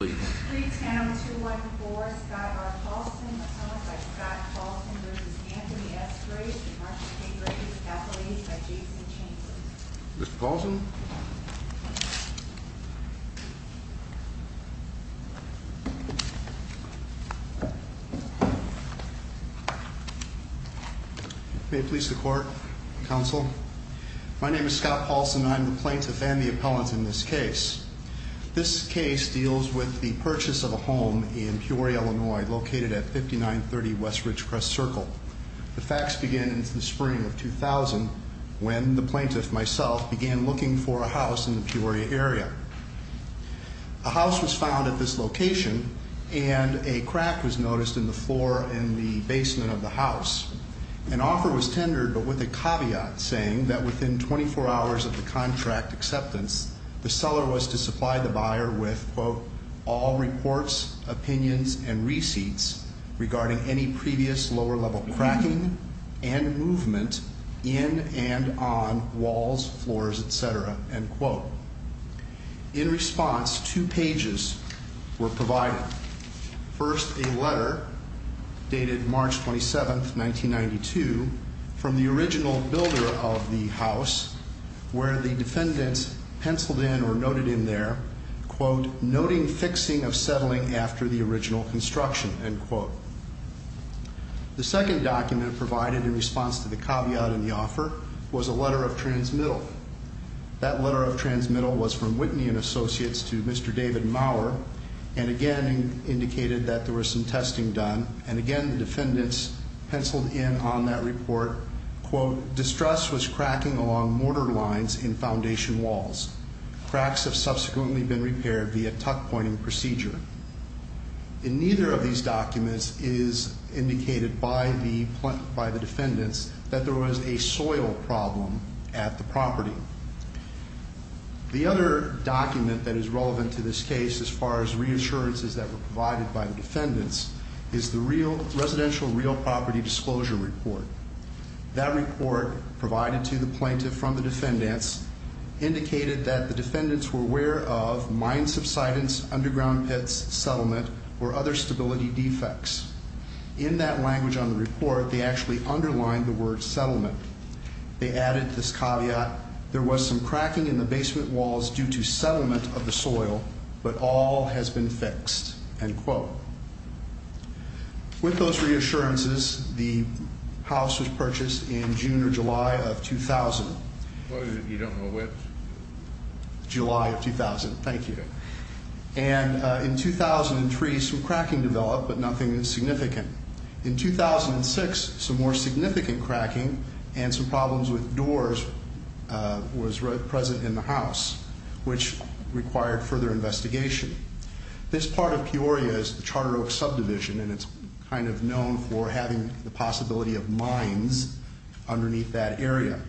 May it please the court, counsel. My name is Scott Paulsen and I am the plaintiff and the appellant in this case. This case deals with the purchase of a home in Peoria, Illinois, located at 5930 Westridge Crest Circle. The facts begin in the spring of 2000 when the plaintiff, myself, began looking for a house in the Peoria area. A house was found at this location and a crack was noticed in the floor in the basement of the house. An offer was tendered but with a caveat saying that within 24 hours of the contract acceptance, the seller was to supply the buyer with, quote, all reports, opinions, and receipts regarding any previous lower level cracking and movement in and on walls, floors, etc., end quote. In response, two pages were provided. First, a letter dated March 27th, 1992 from the original builder of the house where the defendants penciled in or noted in there, quote, noting fixing of settling after the original construction, end quote. The second document provided in response to the caveat in the offer was a letter of transmittal. That letter of transmittal was from Whitney and Associates to Mr. David Maurer and again indicated that there was some testing done and again the defendants penciled in on that report, quote, distress was cracking along mortar lines in foundation walls. Cracks have subsequently been repaired via tuck pointing procedure. In neither of these documents is indicated by the defendants that there was a soil problem at the property. The other document that is relevant to this case as far as reassurances that were provided by that report provided to the plaintiff from the defendants indicated that the defendants were aware of mine subsidence, underground pits, settlement, or other stability defects. In that language on the report, they actually underlined the word settlement. They added this caveat, there was some cracking in the basement walls due to settlement of the soil, but all has been fixed, end quote. With those reassurances, the house was purchased in June or July of 2000. You don't know which? July of 2000, thank you. And in 2003, some cracking developed, but nothing significant. In 2006, some more significant cracking and some problems with doors was present in the house, which required further investigation. This part of Peoria is the Charter Oak subdivision, and it's kind of known for having the possibility of mines underneath that area.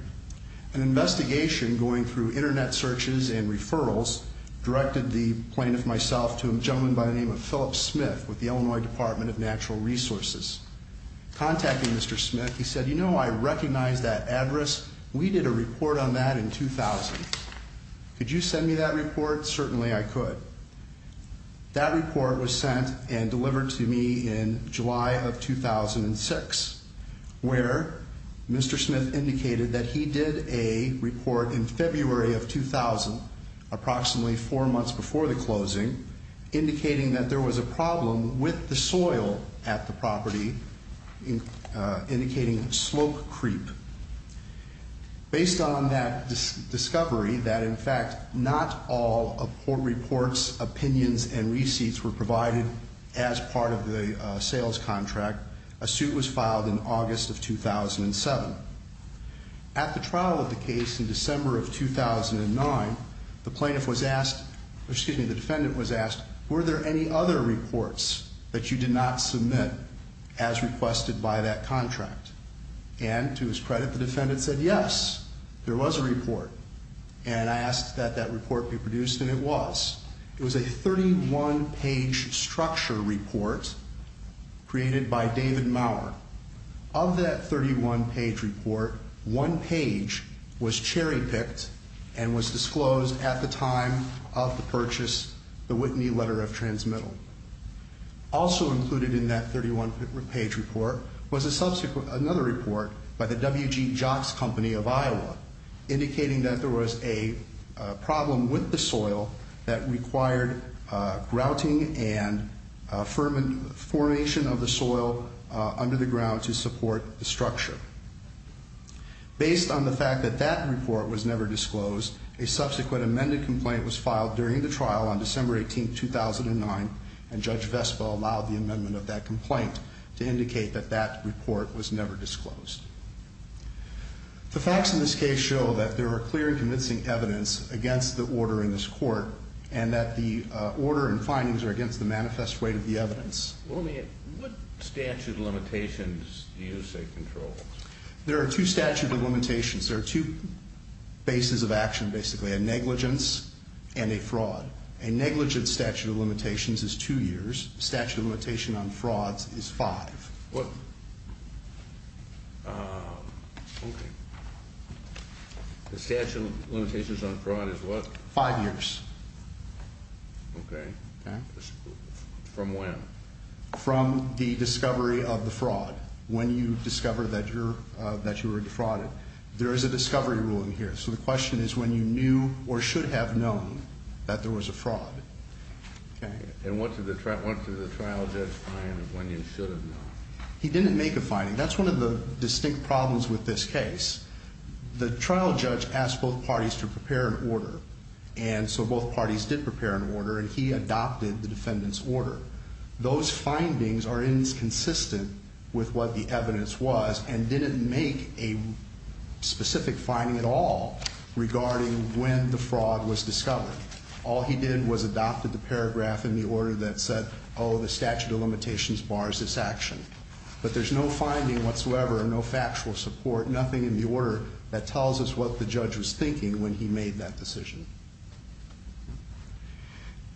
An investigation going through internet searches and referrals directed the plaintiff, myself, to a gentleman by the name of Phillip Smith with the Illinois Department of Natural Resources. Contacting Mr. Smith, he said, you know, I recognize that address. We did a report on that in 2000. Could you send me that report? Certainly, I could. That report was sent and delivered to me in July of 2006, where Mr. Smith indicated that he did a report in February of 2000, approximately four months before the closing, indicating that there was a problem with the soil at the property, indicating slope creep. Based on that discovery that, in fact, not all reports, opinions, and receipts were provided as part of the sales contract, a suit was filed in August of 2007. At the trial of the case in December of 2009, the plaintiff was asked, excuse me, the defendant was asked, were there any other reports that you did not submit as requested by that contract? And to his credit, the defendant said, yes, there was a report. And I asked that that report be produced, and it was. It was a 31-page structure report created by David Maurer. Of that 31-page report, one page was cherry-picked and was disclosed at the time of the purchase, the Whitney Letter of Transmittal. Also included in that 31-page report was another report by the W.G. Jock's Company of Iowa, indicating that there was a problem with the soil that required grouting and formation of the soil under the ground to support the structure. Based on the fact that that report was never disclosed, a subsequent amended complaint was filed during the trial on December 18th, 2009, and Judge Vespa allowed the amendment of that complaint to indicate that that report was never disclosed. The facts in this case show that there are clear and convincing evidence against the order in this court, and that the order and findings are against the manifest weight of the evidence. What statute of limitations do you say controls? There are two statute of limitations. There are two bases of action, basically, a negligence and a fraud. A negligent statute of limitations is two years. Statute of limitation on frauds is five. What? Okay. The statute of limitations on fraud is what? Five years. Okay. From when? From the discovery of the fraud, when you discover that you were defrauded. There is a discovery rule in here. So the question is when you knew or should have known that there was a fraud, okay? And what did the trial judge find of when you should have known? He didn't make a finding. That's one of the distinct problems with this case. The trial judge asked both parties to prepare an order, and so both parties did prepare an order, and he adopted the defendant's order. Those findings are inconsistent with what the evidence was and he didn't make a specific finding at all regarding when the fraud was discovered. All he did was adopted the paragraph in the order that said, the statute of limitations bars this action. But there's no finding whatsoever, no factual support, nothing in the order that tells us what the judge was thinking when he made that decision.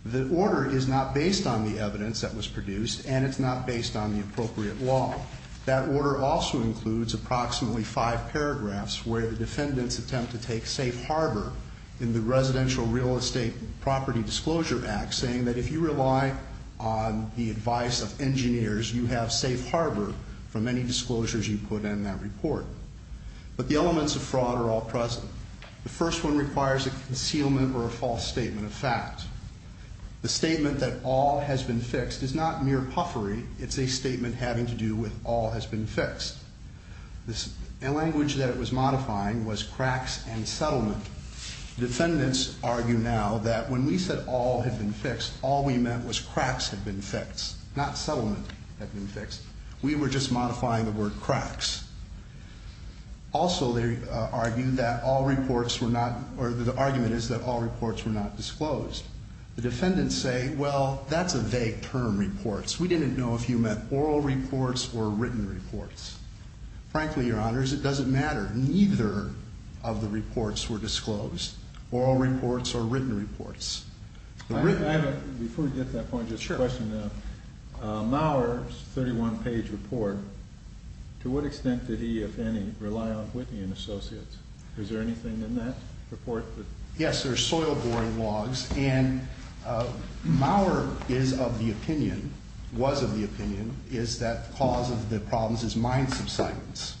The order is not based on the evidence that was produced, and it's not based on the appropriate law. That order also includes approximately five paragraphs where the defendants attempt to take safe harbor in the Residential Real Estate Property Disclosure Act, saying that if you rely on the advice of engineers, you have safe harbor from any disclosures you put in that report. But the elements of fraud are all present. The first one requires a concealment or a false statement of fact. The statement that all has been fixed is not mere puffery, it's a statement having to do with all has been fixed. The language that it was modifying was cracks and settlement. Defendants argue now that when we said all had been fixed, all we meant was cracks had been fixed, not settlement had been fixed. We were just modifying the word cracks. Also, they argue that all reports were not, or the argument is that all reports were not disclosed. The defendants say, well, that's a vague term, reports. We didn't know if you meant oral reports or written reports. Frankly, your honors, it doesn't matter. Neither of the reports were disclosed, oral reports or written reports. I have a, before we get to that point, just a question. Maurer's 31-page report, to what extent did he, if any, rely on Whitney and Associates? Is there anything in that report? Yes, there's soil boring logs, and Maurer is of the opinion, was of the opinion, is that the cause of the problems is mine subsidence.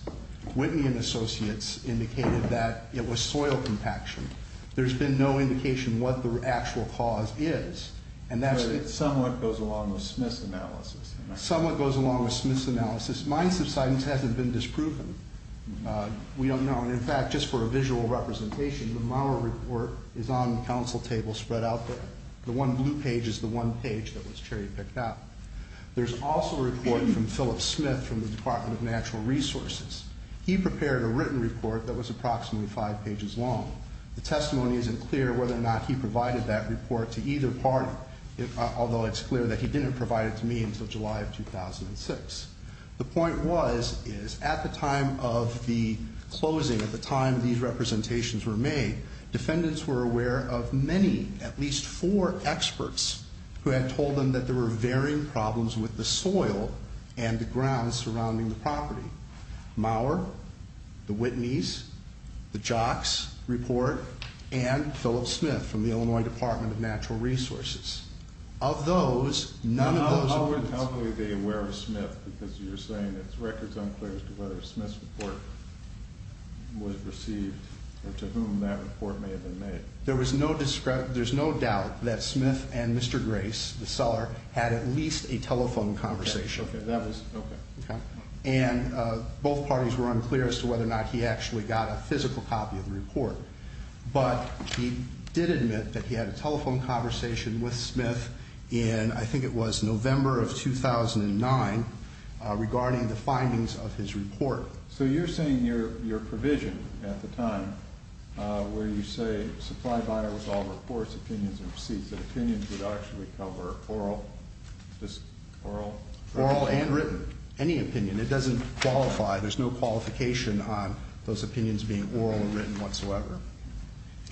Whitney and Associates indicated that it was soil compaction. There's been no indication what the actual cause is. And that's- It somewhat goes along with Smith's analysis. Somewhat goes along with Smith's analysis. Mine subsidence hasn't been disproven. We don't know, and in fact, just for a visual representation, the Maurer report is on the council table spread out there. The one blue page is the one page that was cherry picked out. There's also a report from Philip Smith from the Department of Natural Resources. He prepared a written report that was approximately five pages long. The testimony isn't clear whether or not he provided that report to either party, although it's clear that he didn't provide it to me until July of 2006. The point was, is at the time of the closing, at the time these representations were made, defendants were aware of many, at least four experts, who had told them that there were varying problems with the soil and the ground surrounding the property. Maurer, the Whitney's, the Jock's report, and Philip Smith from the Illinois Department of Natural Resources. Of those, none of those- I wouldn't help me be aware of Smith, because you're saying it's records unclear as to whether Smith's report was received, or to whom that report may have been made. There was no discredit, there's no doubt that Smith and Mr. Grace, the seller, had at least a telephone conversation. Okay, that was, okay. And both parties were unclear as to whether or not he actually got a physical copy of the report. But he did admit that he had a telephone conversation with Smith in, I think it was November of 2009, regarding the findings of his report. So you're saying your provision at the time, where you say, supply buyer with all reports, opinions, and receipts, that opinions would actually cover oral, just oral? Oral and written, any opinion. It doesn't qualify, there's no qualification on those opinions being oral or written whatsoever.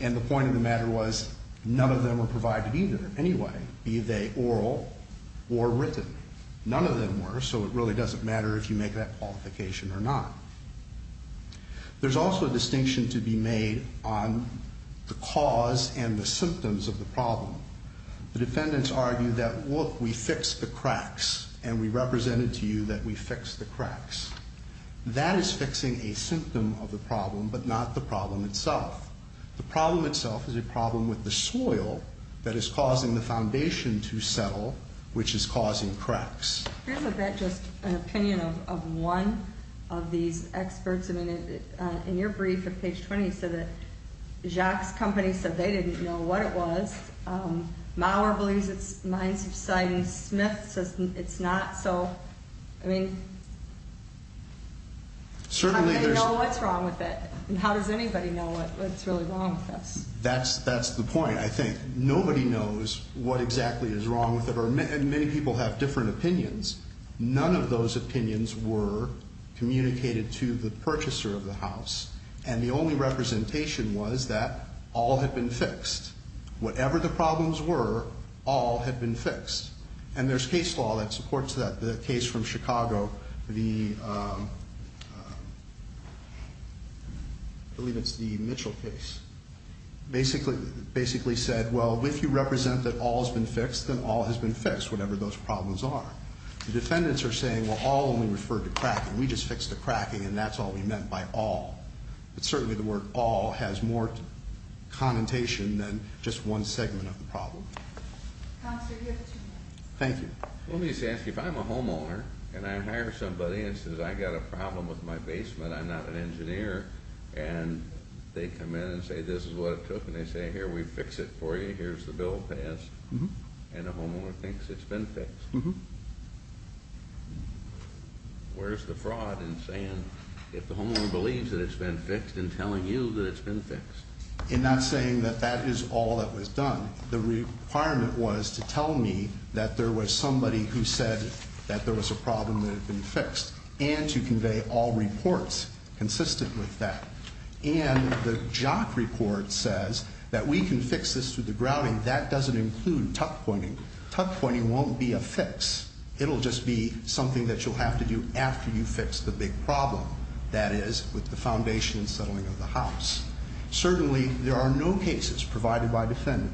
And the point of the matter was, none of them were provided either, anyway, be they oral or written. None of them were, so it really doesn't matter if you make that qualification or not. There's also a distinction to be made on the cause and the symptoms of the problem. The defendants argue that, look, we fixed the cracks, and we represented to you that we fixed the cracks. That is fixing a symptom of the problem, but not the problem itself. The problem itself is a problem with the soil that is causing the foundation to settle, which is causing cracks. Can I have a bit, just an opinion of one of these experts? I mean, in your brief at page 20, you said that Jack's company said they didn't know what it was. Mauer believes it's mine subsiding, Smith says it's not. So, I mean, how do they know what's wrong with it, and how does anybody know what's really wrong with this? That's the point, I think. Nobody knows what exactly is wrong with it, and many people have different opinions. None of those opinions were communicated to the purchaser of the house, and the only representation was that all had been fixed. Whatever the problems were, all had been fixed, and there's case law that supports that. The case from Chicago, I believe it's the Mitchell case, basically said, well, if you represent that all has been fixed, then all has been fixed, whatever those problems are. The defendants are saying, well, all only referred to cracking. We just fixed the cracking, and that's all we meant by all. But certainly the word all has more connotation than just one segment of the problem. Counselor, you have two minutes. Thank you. Let me just ask you, if I'm a homeowner, and I hire somebody, and it says I got a problem with my basement, I'm not an engineer. And they come in and say, this is what it took, and they say, here, we fix it for you. Here's the bill passed, and the homeowner thinks it's been fixed. Where's the fraud in saying, if the homeowner believes that it's been fixed, and telling you that it's been fixed? In not saying that that is all that was done. The requirement was to tell me that there was somebody who said that there was a problem that had been fixed. And to convey all reports consistent with that. And the jock report says that we can fix this through the grouting. That doesn't include tuck pointing. Tuck pointing won't be a fix. It'll just be something that you'll have to do after you fix the big problem. That is, with the foundation and settling of the house. Certainly, there are no cases provided by defendant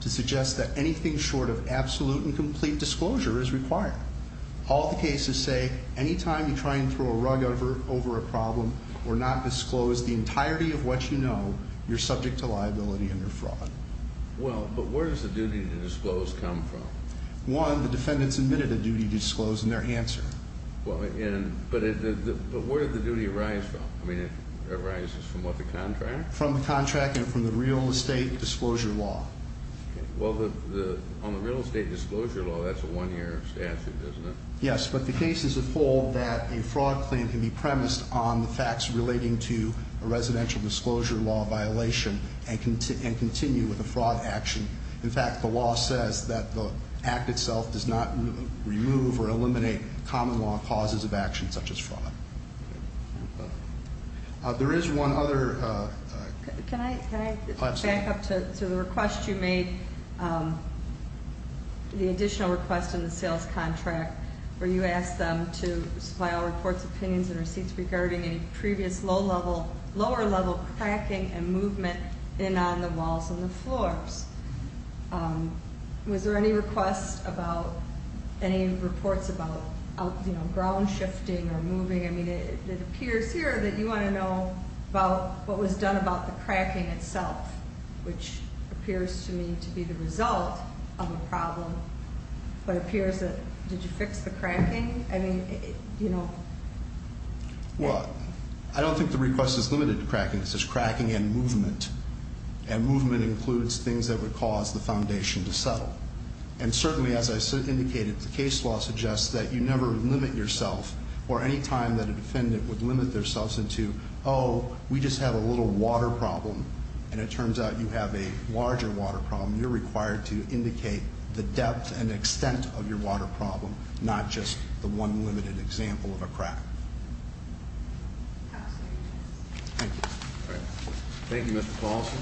to suggest that anything short of absolute and complete disclosure is required. All the cases say, any time you try and throw a rug over a problem or not disclose the entirety of what you know, you're subject to liability and you're fraud. Well, but where does the duty to disclose come from? One, the defendant submitted a duty to disclose in their answer. Well, but where did the duty arise from? I mean, it arises from what, the contract? From the contract and from the real estate disclosure law. Well, on the real estate disclosure law, that's a one year statute, isn't it? Yes, but the cases uphold that a fraud claim can be premised on the facts relating to a residential disclosure law violation and continue with a fraud action. In fact, the law says that the act itself does not remove or eliminate common law causes of action such as fraud. There is one other- Can I back up to the request you made, the additional request in the sales contract, where you asked them to supply all reports, opinions, and receipts regarding any previous low level, lower level cracking and movement in on the walls and the floors. Was there any request about any reports about ground shifting or moving? I mean, it appears here that you want to know about what was done about the cracking itself, which appears to me to be the result of a problem, but it appears that, did you fix the cracking? I mean, you know- Well, I don't think the request is limited to cracking. It says cracking and movement, and movement includes things that would cause the foundation to settle. And certainly, as I indicated, the case law suggests that you never limit yourself or any time that a defendant would limit themselves into, oh, we just have a little water problem. And it turns out you have a larger water problem. You're required to indicate the depth and extent of your water problem, not just the one limited example of a crack. Thank you, Mr. Paulson.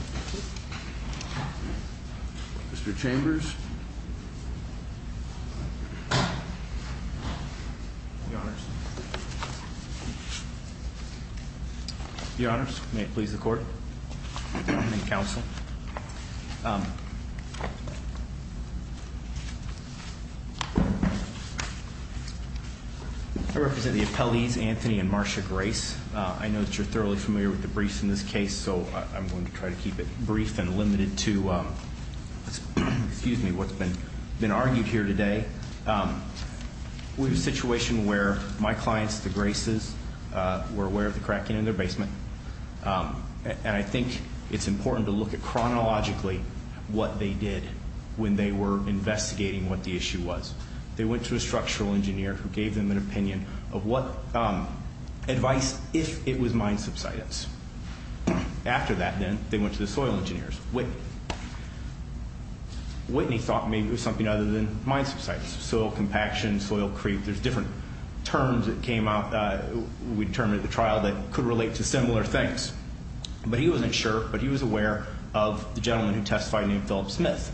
Mr. Chambers. The honors. The honors, may it please the court and the counsel. I represent the appellees, Anthony and Marsha Grace. I know that you're thoroughly familiar with the briefs in this case, so I'm going to try to keep it brief and limited to, excuse me. What's been argued here today, we have a situation where my clients, the Graces, were aware of the cracking in their basement. And I think it's important to look at chronologically what they did when they were investigating what the issue was. They went to a structural engineer who gave them an opinion of what advice, if it was mine subsidence. After that then, they went to the soil engineers. Whitney thought maybe it was something other than mine subsidence. Soil compaction, soil creep, there's different terms that came out, we determined at the trial that could relate to similar things. But he wasn't sure, but he was aware of the gentleman who testified named Phillip Smith,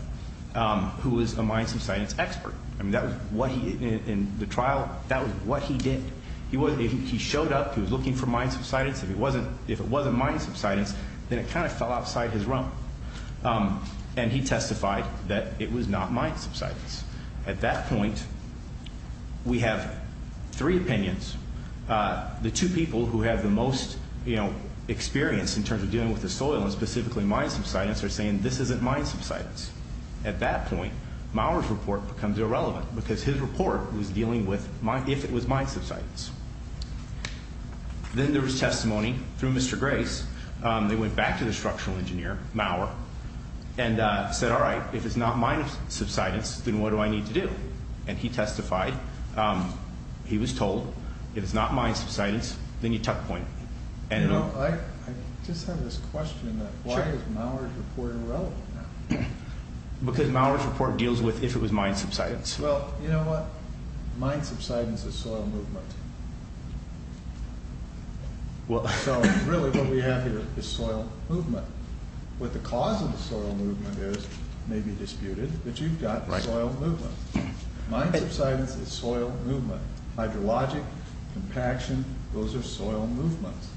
who was a mine subsidence expert. I mean, that was what he, in the trial, that was what he did. He showed up, he was looking for mine subsidence. If it wasn't mine subsidence, then it kind of fell outside his realm. And he testified that it was not mine subsidence. At that point, we have three opinions. The two people who have the most experience in terms of dealing with the soil, and specifically mine subsidence, are saying this isn't mine subsidence. At that point, Maurer's report becomes irrelevant, because his report was dealing with, if it was mine subsidence. Then there was testimony through Mr. Grace, they went back to the structural engineer, Maurer, and said, all right, if it's not mine subsidence, then what do I need to do? And he testified, he was told, if it's not mine subsidence, then you tuck the point. And- I just have this question that why is Maurer's report irrelevant now? Because Maurer's report deals with if it was mine subsidence. Well, you know what? Mine subsidence is soil movement. Well, so really what we have here is soil movement. What the cause of the soil movement is may be disputed, but you've got the soil movement. Mine subsidence is soil movement. Hydrologic, compaction, those are soil movements.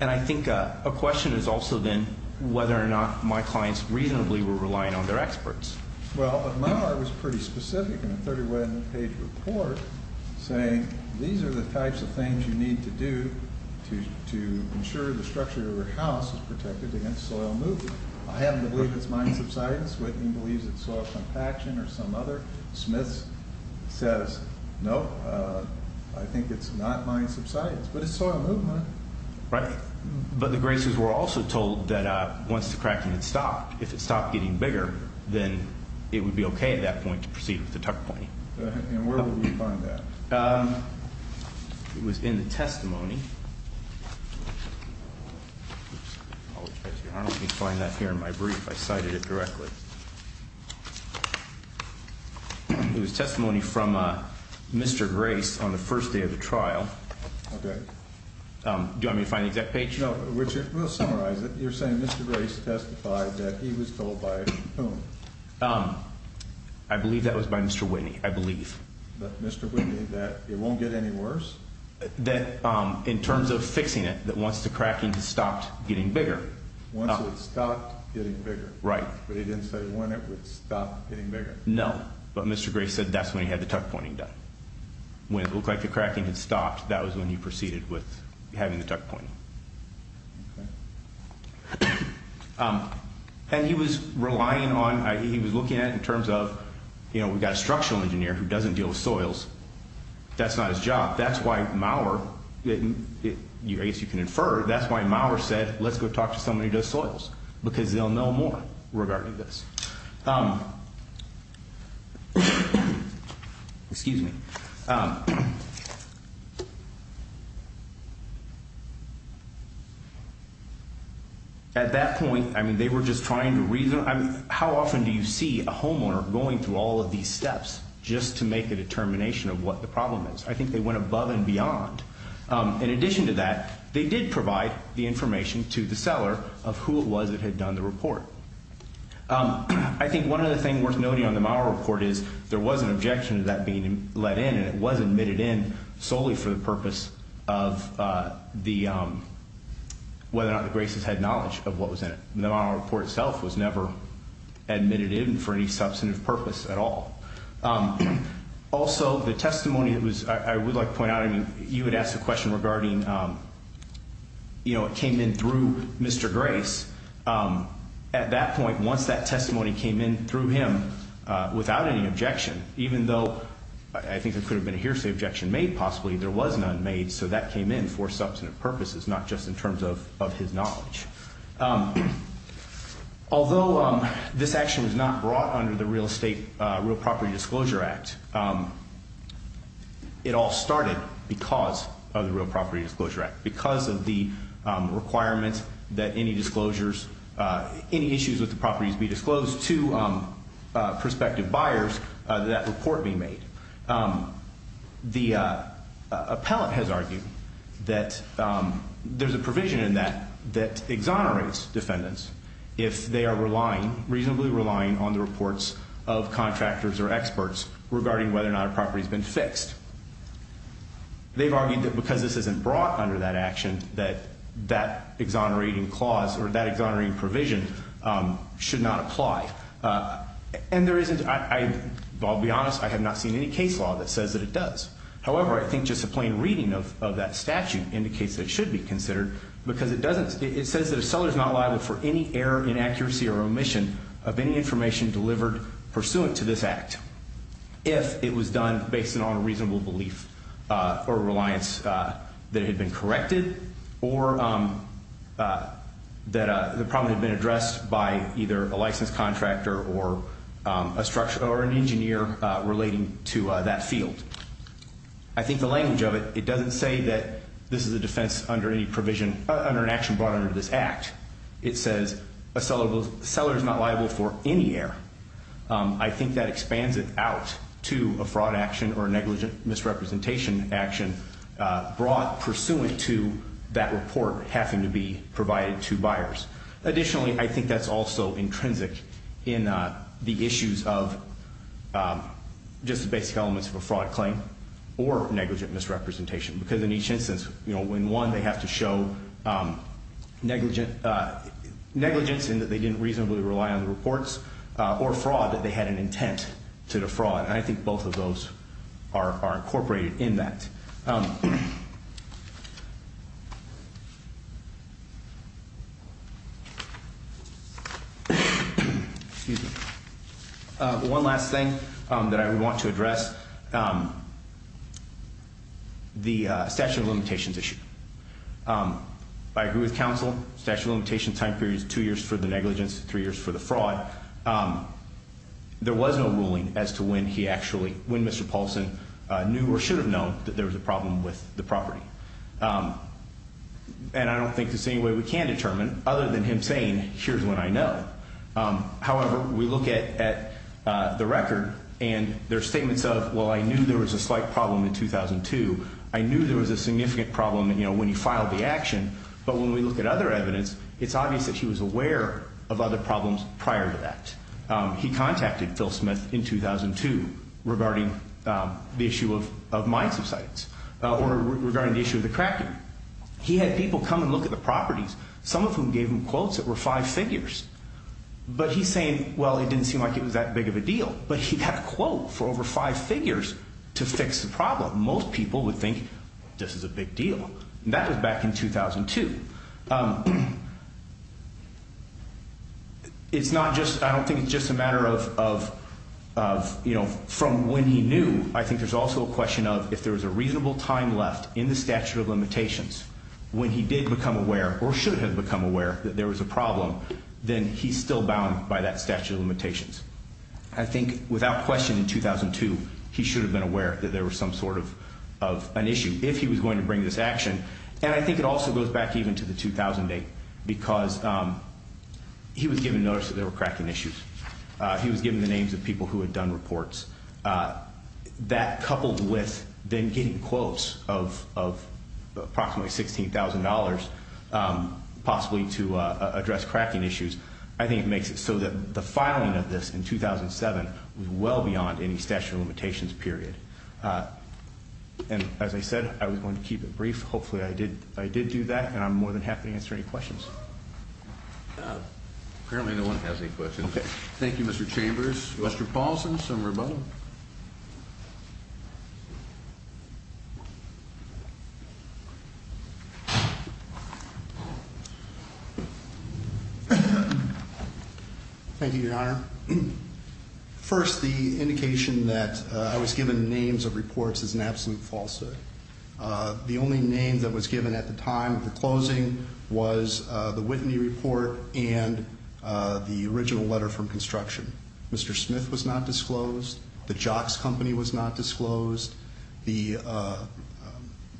And I think a question is also then whether or not my clients reasonably were relying on their experts. Well, but Maurer was pretty specific in a 31-page report saying, these are the types of things you need to do to ensure the structure of your house is protected against soil movement. I happen to believe it's mine subsidence. Whitney believes it's soil compaction or some other. Smith says, no, I think it's not mine subsidence, but it's soil movement. Right, but the Graces were also told that once the cracking had stopped, if it stopped getting bigger, then it would be okay at that point to proceed with the tuck pointing. And where would we find that? It was in the testimony. Let me find that here in my brief, I cited it directly. It was testimony from Mr. Grace on the first day of the trial. Okay. Do you want me to find the exact page? No, Richard, we'll summarize it. You're saying Mr. Grace testified that he was told by whom? I believe that was by Mr. Whitney, I believe. But Mr. Whitney, that it won't get any worse? That in terms of fixing it, that once the cracking had stopped getting bigger. Once it stopped getting bigger. Right. But he didn't say when it would stop getting bigger. No, but Mr. Grace said that's when he had the tuck pointing done. When it looked like the cracking had stopped, that was when he proceeded with having the tuck pointing. And he was relying on, he was looking at it in terms of, you know, we've got a structural engineer who doesn't deal with soils. That's not his job. That's why Maurer, I guess you can infer, that's why Maurer said, let's go talk to somebody who does soils. Because they'll know more regarding this. Excuse me. At that point, I mean, they were just trying to reason. How often do you see a homeowner going through all of these steps just to make a determination of what the problem is? I think they went above and beyond. In addition to that, they did provide the information to the seller of who it was that had done the report. I think one other thing worth noting on the Maurer report is there was an objection to that being let in. And it was admitted in solely for the purpose of whether or not the Graces had knowledge of what was in it. The Maurer report itself was never admitted in for any substantive purpose at all. Also, the testimony that was, I would like to point out, I mean, you had asked a question regarding, you know, it came in through Mr. Grace. At that point, once that testimony came in through him without any objection, even though I think there could have been a hearsay objection made possibly, there was none made. So that came in for substantive purposes, not just in terms of his knowledge. Although this action was not brought under the Real Estate, Real Property Disclosure Act, it all started because of the Real Property Disclosure Act. Because of the requirements that any disclosures, any issues with the properties be disclosed to prospective buyers, that report be made. The appellant has argued that there's a provision in that that exonerates defendants if they are relying, reasonably relying, on the reports of contractors or experts regarding whether or not a property's been fixed. They've argued that because this isn't brought under that action, that that exonerating clause or that exonerating provision should not apply. And there isn't, I'll be honest, I have not seen any case law that says that it does. However, I think just a plain reading of that statute indicates that it should be considered, because it says that a seller's not liable for any error, inaccuracy, or omission of any information delivered pursuant to this act. If it was done based on a reasonable belief or reliance that it had been corrected, or that the problem had been addressed by either a licensed contractor, or an engineer relating to that field. I think the language of it, it doesn't say that this is a defense under any provision, under an action brought under this act. It says a seller is not liable for any error. I think that expands it out to a fraud action or a negligent misrepresentation action brought pursuant to that report having to be provided to buyers. Additionally, I think that's also intrinsic in the issues of just the basic elements of a fraud claim or negligent misrepresentation. Because in each instance, in one they have to show negligence in that they didn't reasonably rely on the reports, or fraud, that they had an intent to defraud. And I think both of those are incorporated in that. One last thing that I would want to address, the statute of limitations issue. I agree with counsel, statute of limitations time period is two years for the negligence, three years for the fraud. There was no ruling as to when he actually, when Mr. Paulson knew or should have known that there was a problem with the property. And I don't think there's any way we can determine, other than him saying, here's when I know. However, we look at the record, and there's statements of, well, I knew there was a slight problem in 2002. I knew there was a significant problem when he filed the action. But when we look at other evidence, it's obvious that he was aware of other problems prior to that. He contacted Phil Smith in 2002, regarding the issue of mine subsides, or regarding the issue of the cracker. He had people come and look at the properties, some of whom gave him quotes that were five figures. But he's saying, well, it didn't seem like it was that big of a deal. But he had a quote for over five figures to fix the problem. Most people would think, this is a big deal. And that was back in 2002. It's not just, I don't think it's just a matter of, from when he knew, I think there's also a question of, if there was a reasonable time left in the statute of limitations, when he did become aware, or should have become aware, that there was a problem, then he's still bound by that statute of limitations. I think, without question, in 2002, he should have been aware that there was some sort of an issue, if he was going to bring this action. And I think it also goes back even to the 2008, because he was given notice that there were cracking issues. He was given the names of people who had done reports. That coupled with them getting quotes of approximately $16,000, possibly to address cracking issues, I think it makes it so that the filing of this in 2007 was well beyond any statute of limitations period. And as I said, I was going to keep it brief. Hopefully I did do that, and I'm more than happy to answer any questions. Apparently no one has any questions. Thank you, Mr. Chambers. Mr. Paulson, some rebuttal. Thank you, Your Honor. First, the indication that I was given names of reports is an absolute falsehood. The only name that was given at the time of the closing was the Whitney report and the original letter from construction. Mr. Smith was not disclosed. The Jocks Company was not disclosed. The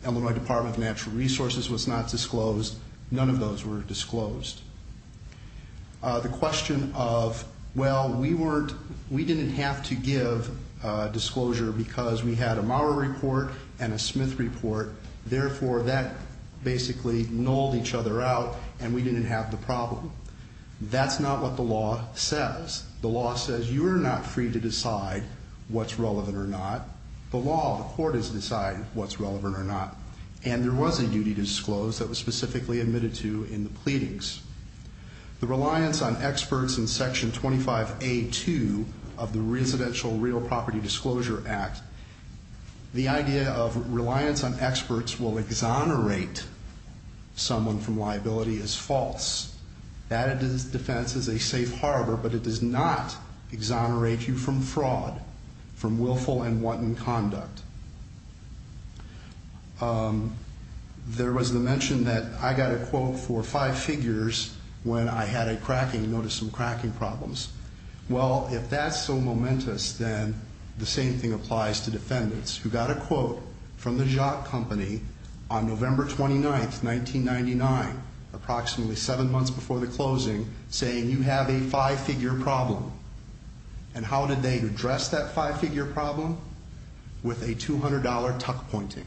Illinois Department of Natural Resources was not disclosed. None of those were disclosed. The question of, well, we didn't have to give disclosure because we had a Maurer report and a Smith report. Therefore, that basically nulled each other out, and we didn't have the problem. That's not what the law says. The law says you are not free to decide what's relevant or not. The law of the court is to decide what's relevant or not. And there was a duty to disclose that was specifically admitted to in the pleadings. The reliance on experts in section 25A2 of the Residential Real Property Disclosure Act, the idea of reliance on experts will exonerate someone from liability is false. That defense is a safe harbor, but it does not exonerate you from fraud, from willful and wanton conduct. There was the mention that I got a quote for five figures when I had a cracking, noticed some cracking problems. Well, if that's so momentous, then the same thing applies to defendants who got a quote from the Jock Company on November 29th, 1999, approximately seven months before the closing, saying you have a five-figure problem. And how did they address that five-figure problem? With a $200 tuck pointing.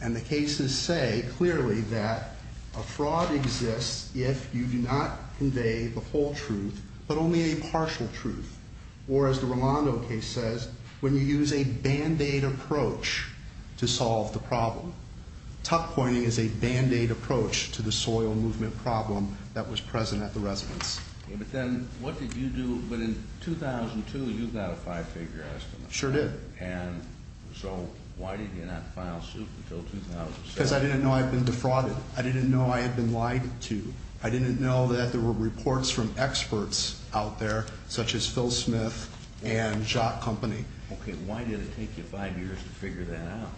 And the cases say clearly that a fraud exists if you do not convey the whole truth, but only a partial truth. Or as the Rolando case says, when you use a band-aid approach to solve the problem. Tuck pointing is a band-aid approach to the soil movement problem that was present at the residence. But then, what did you do, but in 2002, you got a five-figure estimate. Sure did. And so, why did you not file suit until 2007? Because I didn't know I'd been defrauded. I didn't know I had been lied to. I didn't know that there were reports from experts out there, such as Phil Smith and Jock Company. Okay, why did it take you five years to figure that out?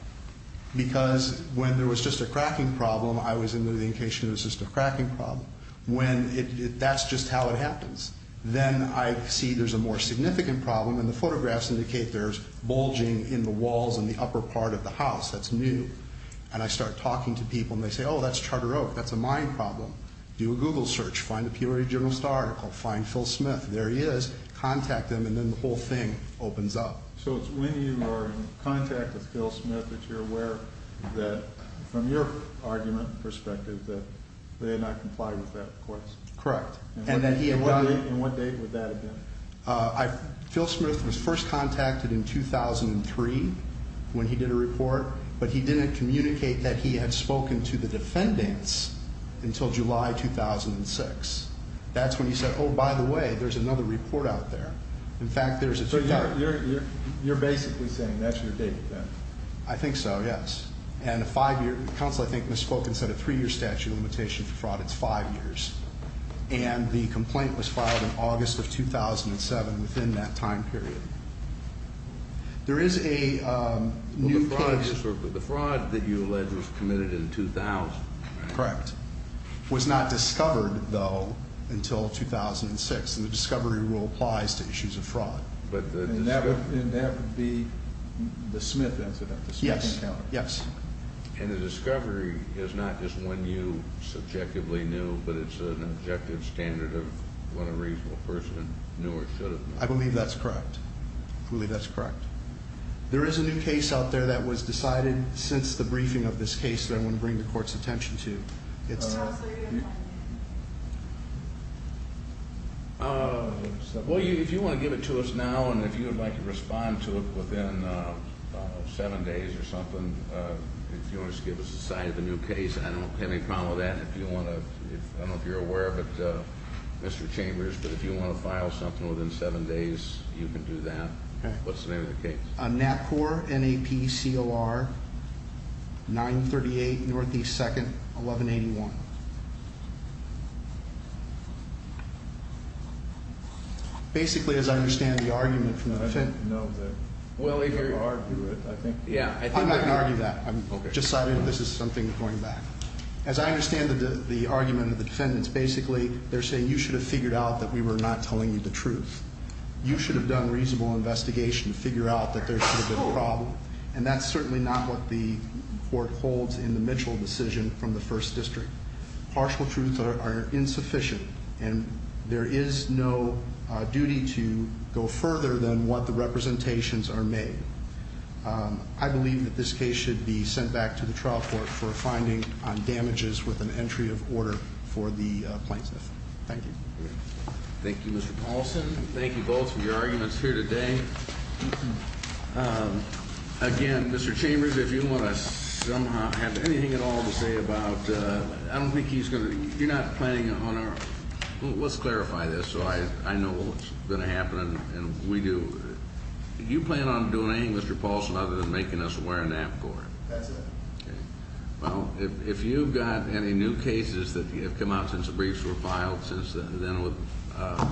Because when there was just a cracking problem, I was in litigation, it was just a cracking problem. When it, that's just how it happens. Then I see there's a more significant problem, and the photographs indicate there's bulging in the walls in the upper part of the house. That's new. And I start talking to people, and they say, oh, that's Charter Oak, that's a mine problem. Do a Google search, find a Peoria Journalist article, find Phil Smith. There he is, contact him, and then the whole thing opens up. So it's when you are in contact with Phil Smith that you're aware that, from your argument and perspective, that they did not comply with that request. Correct. And that he had done it. And what date would that have been? Phil Smith was first contacted in 2003 when he did a report, but he didn't communicate that he had spoken to the defendants until July 2006. That's when he said, oh, by the way, there's another report out there. In fact, there's a- So you're basically saying that's your date then? I think so, yes. And a five year, counsel I think misspoke and said a three year statute of limitation for fraud, it's five years. And the complaint was filed in August of 2007 within that time period. There is a new case- But the fraud that you allege was committed in 2000, right? Correct. Was not discovered, though, until 2006, and the discovery rule applies to issues of fraud. And that would be the Smith incident, the Smith encounter? Yes, yes. And the discovery is not just when you subjectively knew, but it's an objective standard of when a reasonable person knew or should have known. I believe that's correct. I believe that's correct. There is a new case out there that was decided since the briefing of this case that I want to bring the court's attention to. It's- Counsel, you didn't like it? Well, if you want to give it to us now and if you would like to respond to it within seven days or if you want to just give us a sign of the new case, I don't have any problem with that. If you want to, I don't know if you're aware of it, Mr. Chambers, but if you want to file something within seven days, you can do that. What's the name of the case? NAPCOR, N-A-P-C-O-R, 938 North East 2nd, 1181. Basically, as I understand the argument from the defendant- No, they're- Well, if you're- They argue it, I think. Yeah, I think- I'm just citing that this is something going back. As I understand the argument of the defendants, basically, they're saying you should have figured out that we were not telling you the truth. You should have done reasonable investigation to figure out that there should have been a problem. And that's certainly not what the court holds in the Mitchell decision from the first district. Partial truths are insufficient, and there is no duty to go further than what the representations are made. I believe that this case should be sent back to the trial court for a finding on damages with an entry of order for the plaintiff. Thank you. Thank you, Mr. Paulson. Thank you both for your arguments here today. Again, Mr. Chambers, if you want to somehow have anything at all to say about, I don't think he's going to, you're not planning on our, let's clarify this so I know what's going to happen and we do. Do you plan on doing anything, Mr. Paulson, other than making us wear a nap core? That's it. Well, if you've got any new cases that have come out since the briefs were filed, since then we'll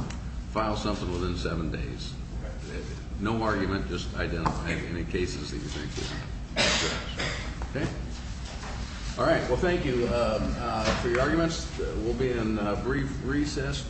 file something within seven days. No argument, just identify any cases that you think you can address, okay? All right, well, thank you for your arguments. We'll be in a brief recess.